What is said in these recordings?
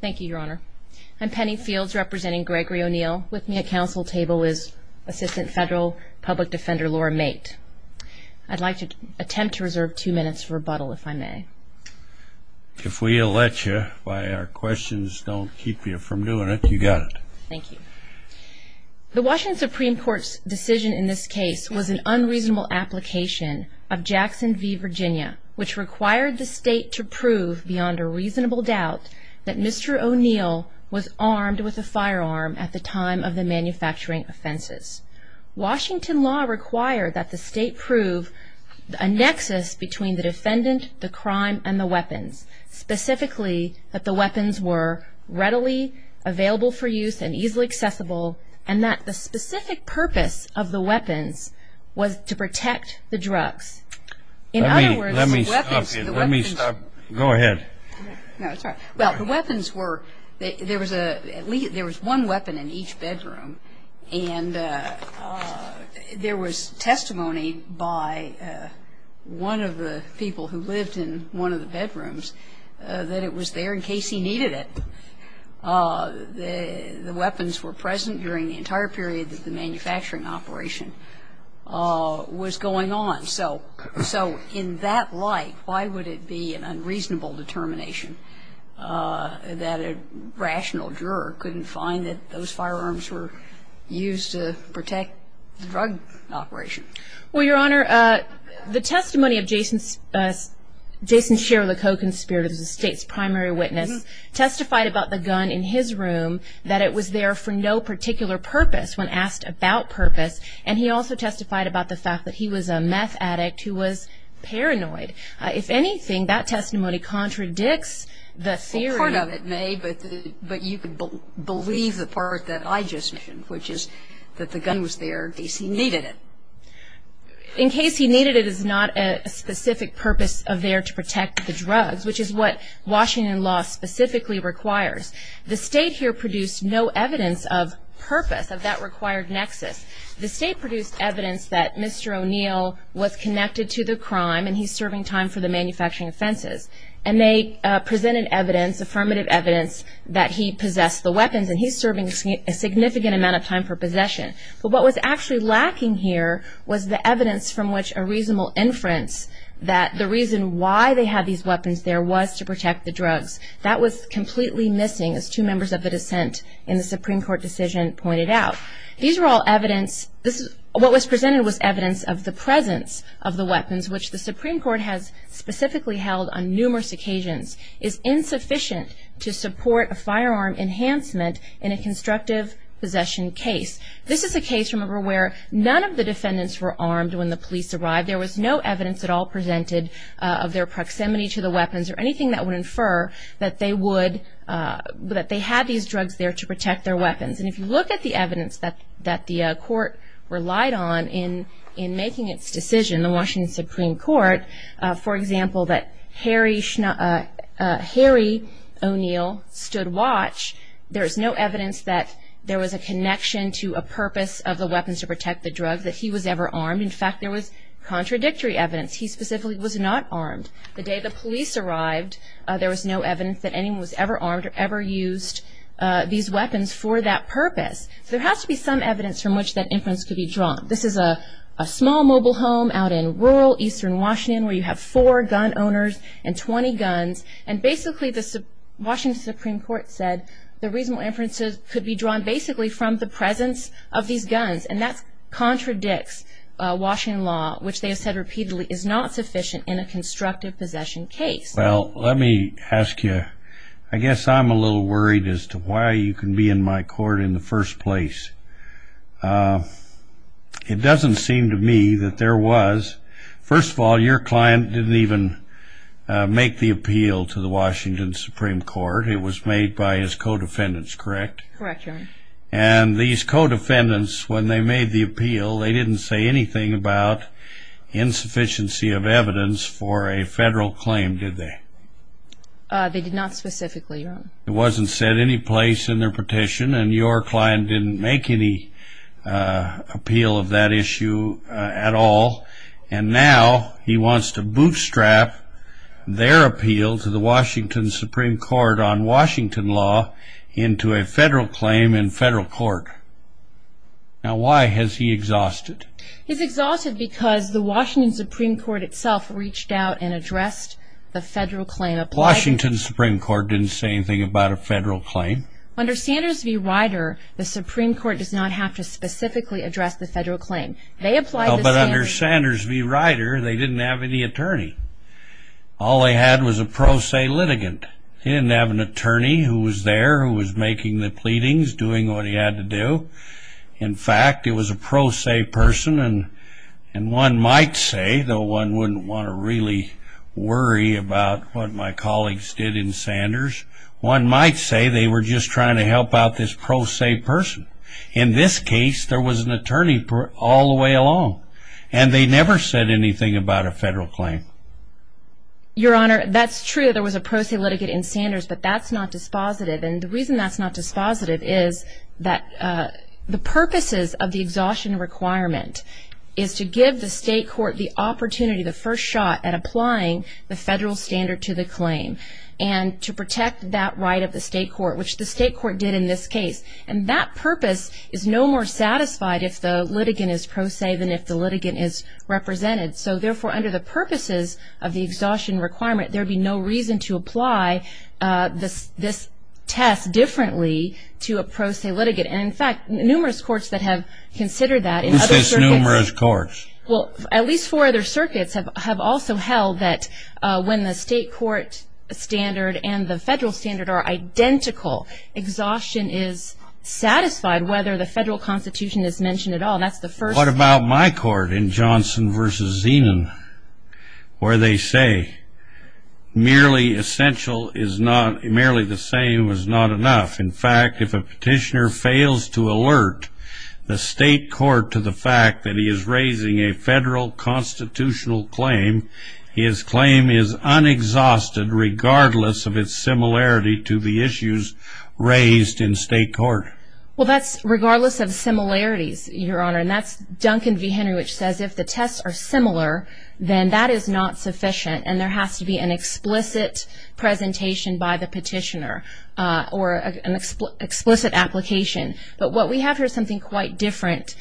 Thank you, Your Honor. I'm Penny Fields representing Gregory O'Neal. With me at counsel table is Assistant Federal Public Defender Laura Mate. I'd like to attempt to reserve two minutes for rebuttal if I may. If we elect you by our questions don't keep you from doing it, you got it. Thank you. The Washington Supreme Court's decision in this case was an unreasonable application of Jackson v. Virginia which required the state to prove beyond a reasonable doubt that Mr. O'Neal was armed with a firearm at the time of the manufacturing offenses. Washington law required that the state prove a nexus between the defendant, the crime, and the weapons. Specifically that the weapons were readily available for use and easily accessible and that the specific purpose of the weapons was to protect the drugs. In other words, the weapons the weapons The weapons Let me stop you. Let me stop you. Go ahead. No, it's all right. Well, the weapons were at least there was one weapon in each bedroom and there was testimony by one of the people who lived in one of the bedrooms that it was there in case he needed it. The weapons were present during the entire period that the manufacturing operation was going on. So in that light, why would it be an unreasonable determination that a rational juror couldn't find that those firearms were used to protect the drug operation? Well, Your Honor, the testimony of Jason Shear, the co-conspirator, the state's primary witness, testified about the gun in his room that it was there for no particular purpose when asked about purpose. And he also testified about the fact that he was a meth addict who was paranoid. If anything, that testimony contradicts the theory Well, part of it may, but you could believe the part that I just mentioned, which is that the gun was there in case he needed it. In case he needed it is not a specific purpose of there to protect the drugs, which is what required nexus. The state produced evidence that Mr. O'Neill was connected to the crime and he's serving time for the manufacturing offenses. And they presented evidence, affirmative evidence, that he possessed the weapons and he's serving a significant amount of time for possession. But what was actually lacking here was the evidence from which a reasonable inference that the reason why they had these weapons there was to protect the drugs. That was completely missing, as two members of the dissent in the Supreme Court decision pointed out. These were all evidence, what was presented was evidence of the presence of the weapons, which the Supreme Court has specifically held on numerous occasions is insufficient to support a firearm enhancement in a constructive possession case. This is a case, remember, where none of the defendants were armed when the police arrived. There was no evidence at all presented of their proximity to the weapons or anything that would infer that they had these drugs there to protect their weapons. And if you look at the evidence that the court relied on in making its decision, the Washington Supreme Court, for example, that Harry O'Neill stood watch, there's no evidence that there was a connection to a purpose of the weapons to protect the drugs that he was ever armed. In fact, there was contradictory evidence. He specifically was not armed. The day the case came out, there was no evidence that anyone was ever armed or ever used these weapons for that purpose. There has to be some evidence from which that inference could be drawn. This is a small mobile home out in rural eastern Washington where you have four gun owners and 20 guns, and basically the Washington Supreme Court said the reasonable inferences could be drawn basically from the presence of these guns, and that contradicts Washington law, which they have said repeatedly is not sufficient in a constructive possession case. Well, let me ask you, I guess I'm a little worried as to why you can be in my court in the first place. It doesn't seem to me that there was. First of all, your client didn't even make the appeal to the Washington Supreme Court. It was made by his co-defendants, correct? And these co-defendants, when they made the appeal, they didn't say anything about insufficiency of evidence for a federal claim, did they? They did not specifically, Your Honor. It wasn't said any place in their petition, and your client didn't make any appeal of that issue at all, and now he wants to bootstrap their appeal to the Washington Supreme Court on Washington law into a federal claim in federal court. Now why has he exhausted? He's exhausted because the Washington Supreme Court itself reached out and addressed the federal claim. Washington Supreme Court didn't say anything about a federal claim? Under Sanders v. Ryder, the Supreme Court does not have to specifically address the federal claim. They applied to Sanders. But under Sanders v. Ryder, they didn't have any attorney. All they had was a pro se litigant. They didn't have an attorney who was there, who was making the pleadings, doing what he had to do. In fact, it was a pro se person, and one might say, though one wouldn't want to really worry about what my colleagues did in Sanders, one might say they were just trying to help out this pro se person. In this case, there was an attorney all the way along, and they never said anything about a federal claim. Your Honor, that's true. There was a pro se litigant in Sanders, but that's not dispositive, and the reason that's not dispositive is that the purposes of the exhaustion requirement is to give the state court the opportunity, the first shot at applying the federal standard to the claim, and to protect that right of the state court, which the state court did in this case. And that purpose is no more satisfied if the litigant is pro se than if the litigant is represented. So therefore, under the purposes of the exhaustion requirement, there would be no reason to apply this test differently to a pro se litigant. And in fact, numerous courts that have considered that in other circuits... Who says numerous courts? Well, at least four other circuits have also held that when the state court standard and the federal standard are identical, exhaustion is satisfied whether the federal constitution is mentioned at all. That's the first... Merely essential is not... merely the same is not enough. In fact, if a petitioner fails to alert the state court to the fact that he is raising a federal constitutional claim, his claim is unexhausted regardless of its similarity to the issues raised in state court. Well, that's regardless of similarities, Your Honor, and that's Duncan v. Henry, which says if the tests are similar, then that is not sufficient and there has to be an explicit presentation by the petitioner or an explicit application. But what we have here is something quite different.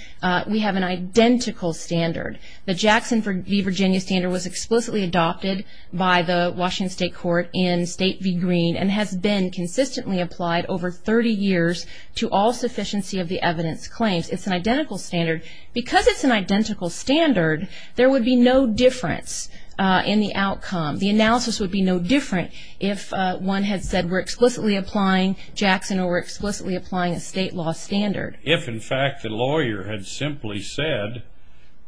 We have an identical standard. The Jackson v. Virginia standard was explicitly adopted by the Washington State Court in State v. Green and has been consistently applied over 30 years to all sufficiency of the evidence claims. It's an identical standard. Because it's an identical standard, there would be no difference in the outcome. The analysis would be no different if one had said we're explicitly applying Jackson or we're explicitly applying a state law standard. If in fact the lawyer had simply said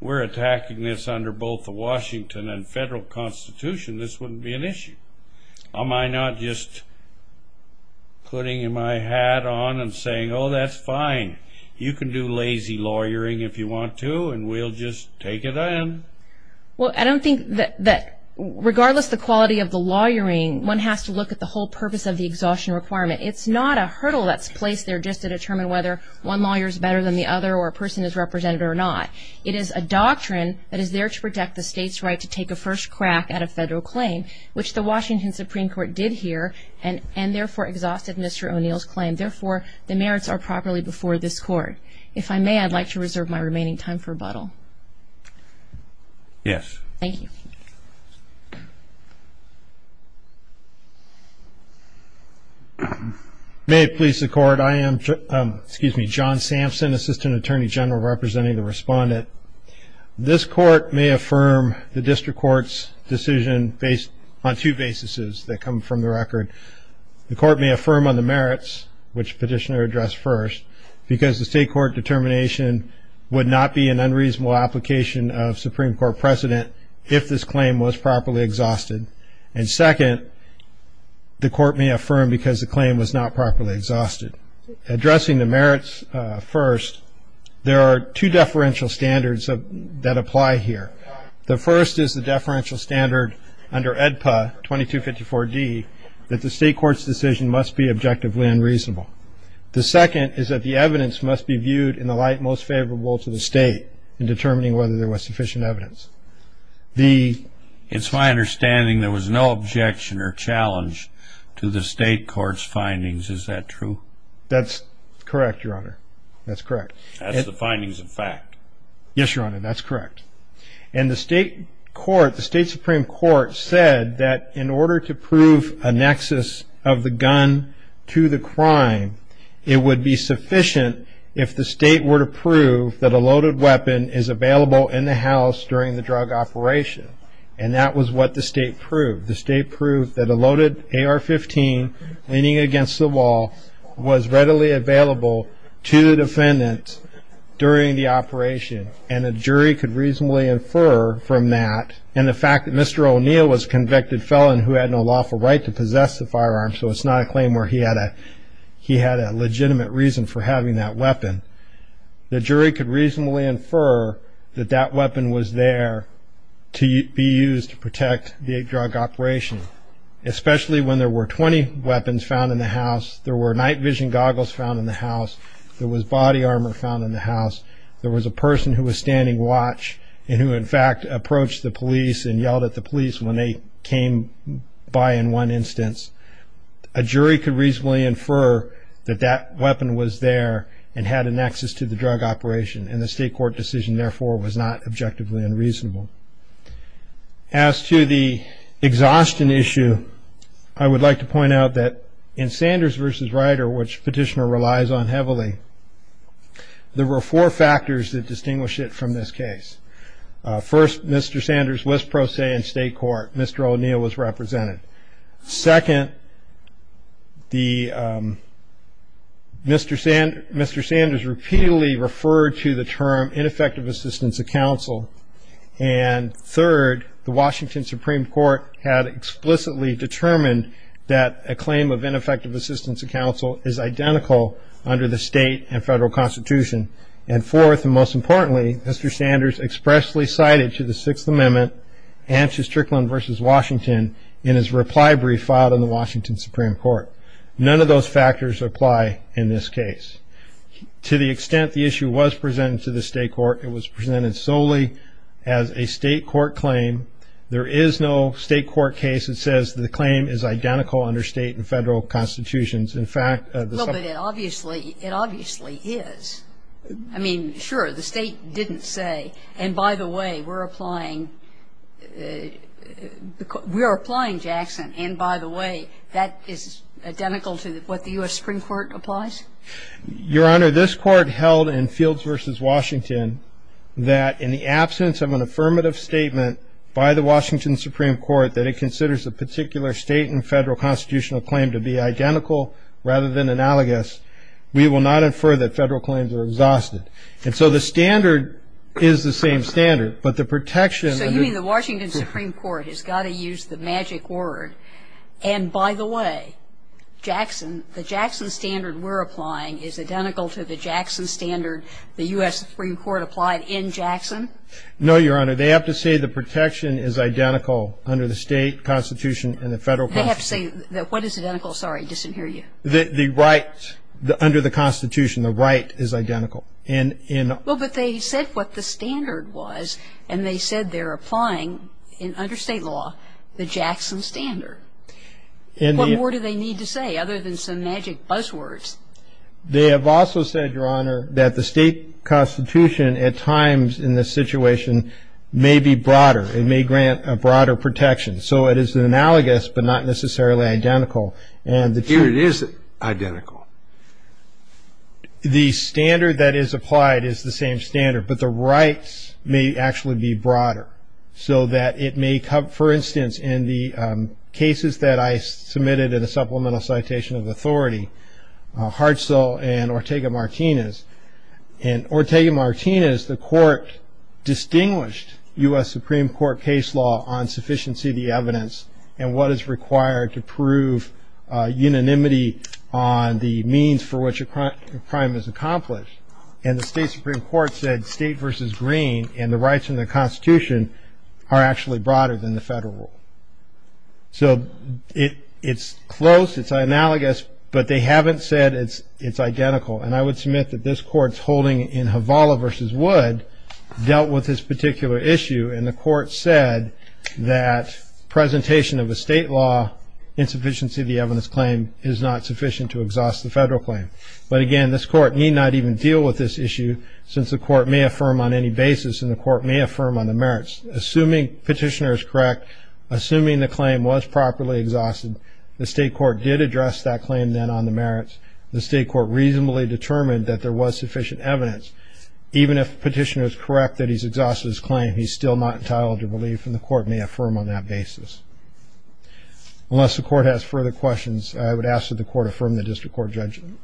we're attacking this under both the Washington and federal constitution, this wouldn't be an issue. Am I not just putting my hat on and saying, oh, that's fine. You can do lazy lawyering if you want to and we'll just take it on. Well, I don't think that regardless of the quality of the lawyering, one has to look at the whole purpose of the exhaustion requirement. It's not a hurdle that's placed there just to determine whether one lawyer is better than the other or a person is represented or not. It is a doctrine that is there to protect the state's right to take a first crack at a federal claim, which the Washington Supreme Court did here and therefore exhausted Mr. O'Neill's claim. Therefore, the merits are properly before this Court. If I may, I'd like to reserve my remaining time for rebuttal. Yes. Thank you. May it please the Court. I am John Sampson, Assistant Attorney General representing the Respondent. This Court may affirm the District Court's decision based on two basis that come from the record. The Court may affirm on the merits, which Petitioner addressed first, because the State Court determination would not be an unreasonable application of Supreme Court precedent if this claim was properly exhausted. And second, the Court may affirm because the claim was not properly exhausted. Addressing the merits first, there are two deferential standards that apply here. The first is the deferential standard under EDPA 2254D that the State Court's decision must be objectively unreasonable. The second is that the evidence must be viewed in the light most favorable to the State in determining whether there was sufficient evidence. The It's my understanding there was no objection or challenge to the State Court's findings. Is that true? That's correct, Your Honor. That's correct. That's the findings of fact. Yes, Your Honor, that's correct. And the State Supreme Court said that in order to prove a nexus of the gun to the crime, it would be sufficient if the State were to prove that a loaded weapon is available in the house during the drug operation. And that was what the State proved. The State proved that a loaded AR-15 leaning against the wall was readily available to the defendant during the operation. And a jury could reasonably infer from that, and the fact that Mr. O'Neill was a convicted felon who had no lawful right to possess the firearm, so it's not a claim where he had a legitimate reason for having that weapon, the jury could reasonably infer that that weapon was there to be used to protect the drug operation. Especially when there were 20 weapons found in the house, there were night vision goggles found in the house, there was body armor found in the house, there was a person who was standing watch and who in fact approached the police and yelled at the police when they came by in one instance. A jury could reasonably infer that that weapon was there and had a nexus to the drug operation. And the State Court decision, therefore, was not objectively unreasonable. As to the exhaustion issue, I would like to point out that in Sanders v. Ryder, which Petitioner relies on heavily, there were four factors that distinguish it from this case. First, Mr. Sanders was pro se in State Court, Mr. O'Neill was represented. Second, Mr. Sanders repeatedly referred to the term ineffective assistance of counsel. And third, the Washington Supreme Court had explicitly determined that a claim of ineffective assistance of counsel is identical under the State and Federal Constitution. And fourth, and most importantly, Mr. Sanders expressly cited to the Sixth Amendment and to Strickland v. Washington in his reply brief filed in the Washington Supreme Court. None of those factors apply in this case. To the extent the issue was presented to the State Court, it was presented solely as a State Court claim. There is no State Court case that says the claim is identical under State and Federal Constitutions. In fact, the Sup ---- Kagan. Well, but it obviously, it obviously is. I mean, sure, the State didn't say, and by the way, we're applying, we are applying, Jackson, and by the way, that is identical to what the U.S. Supreme Court applies? Your Honor, this Court held in Fields v. Washington that in the absence of an affirmative statement by the Washington Supreme Court that it considers a particular State and Federal Constitutional claim to be identical rather than analogous, we will not infer that Federal claims are exhausted. And so the standard is the same standard, but the protection of the ---- Kagan. Well, but it obviously, it obviously is. I mean, sure, the State didn't say, and by the way, we're applying, Jackson, and by the way, that is identical to what the U.S. Supreme Court applies? Your Honor, this Court held in Fields v. Washington that in the absence of an affirmative statement by the Washington Supreme Court that it considers a particular State and Federal Constitutional claim to be identical rather than analogous, we will not infer that Federal claims are exhausted. They have also said, Your Honor, that the State Constitution at times in this situation may be broader. It may grant a broader protection. So it is analogous, but not necessarily identical. Here it is identical. The standard that is applied is the same standard, but the rights may actually be broader so that it may come, for instance, in the cases that I submitted in a supplemental citation of authority, Hartzell and Ortega-Martinez. In Ortega-Martinez, the Court distinguished U.S. Supreme Court case law on sufficiency of the evidence and what is required to prove unanimity on the means for which a crime is accomplished. And the State Supreme Court said State v. Green and the rights in the Constitution are actually broader than the Federal rule. So it's close, it's analogous, but they haven't said it's identical. And I would submit that this Court's holding in Havala v. Wood dealt with this particular issue, and the Court said that presentation of a State law, insufficiency of the evidence claim is not sufficient to exhaust the Federal claim. But again, this Court need not even deal with this issue since the Court may affirm on any basis, and the Court may affirm on the merits. Assuming Petitioner is correct, assuming the claim was properly exhausted, the State Court did address that claim then on the merits. The State Court reasonably determined that there was sufficient evidence. Even if Petitioner is correct that he's exhausted his claim, he's still not entitled to belief, and the Court may affirm on that basis. Unless the Court has further questions, I would ask that the Court affirm the District Court judgment.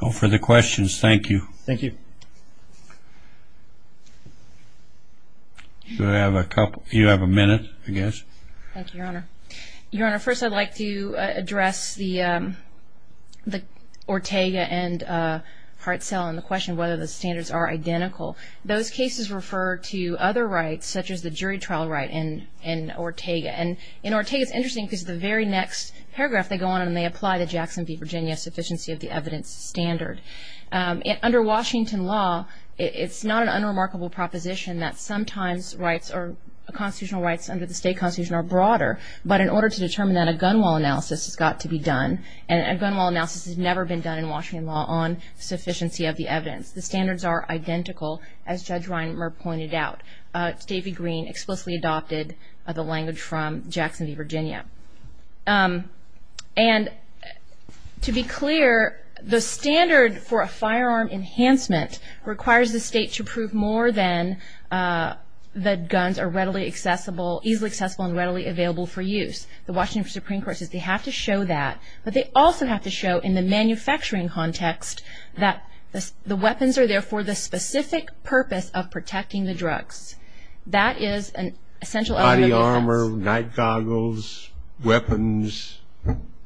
No further questions. Thank you. Thank you. Should I have a couple? You have a minute, I guess. Thank you, Your Honor. Your Honor, first I'd like to address the Ortega and Hartzell and the question whether the standards are identical. Those cases refer to other rights such as the jury trial right in Ortega. And in Ortega, it's interesting because the very next paragraph they go on and they apply the Jackson v. Virginia sufficiency of the evidence standard. Under Washington law, it's not an unremarkable proposition that sometimes constitutional rights under the state constitution are broader. But in order to determine that, a gun law analysis has got to be done. And a gun law analysis has never been done in Washington law on sufficiency of the evidence. The standards are identical, as Judge Reinmer pointed out. David Green explicitly adopted the language from Jackson v. Virginia. And to be clear, the standard for a firearm enhancement requires the state to prove more than that guns are readily accessible, easily accessible and readily available for use. The Washington Supreme Court says they have to show that. But they also have to show in the manufacturing context that the weapons are there for the specific purpose of protecting the drugs. That is an essential element of defense.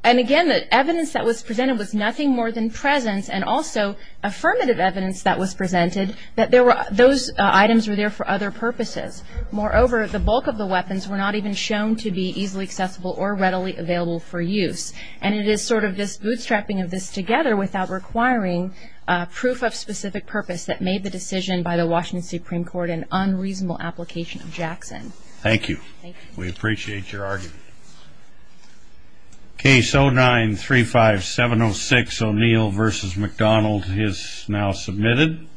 And again, the evidence that was presented was nothing more than presence and also affirmative evidence that was presented that those items were there for other purposes. Moreover, the bulk of the weapons were not even shown to be easily accessible or readily available for use. And it is sort of this bootstrapping of this together without requiring proof of specific purpose that made the decision by the Washington Supreme Court an unreasonable application of Jackson. Thank you. We appreciate your argument. Case 09-35706, O'Neill v. McDonald is now submitted.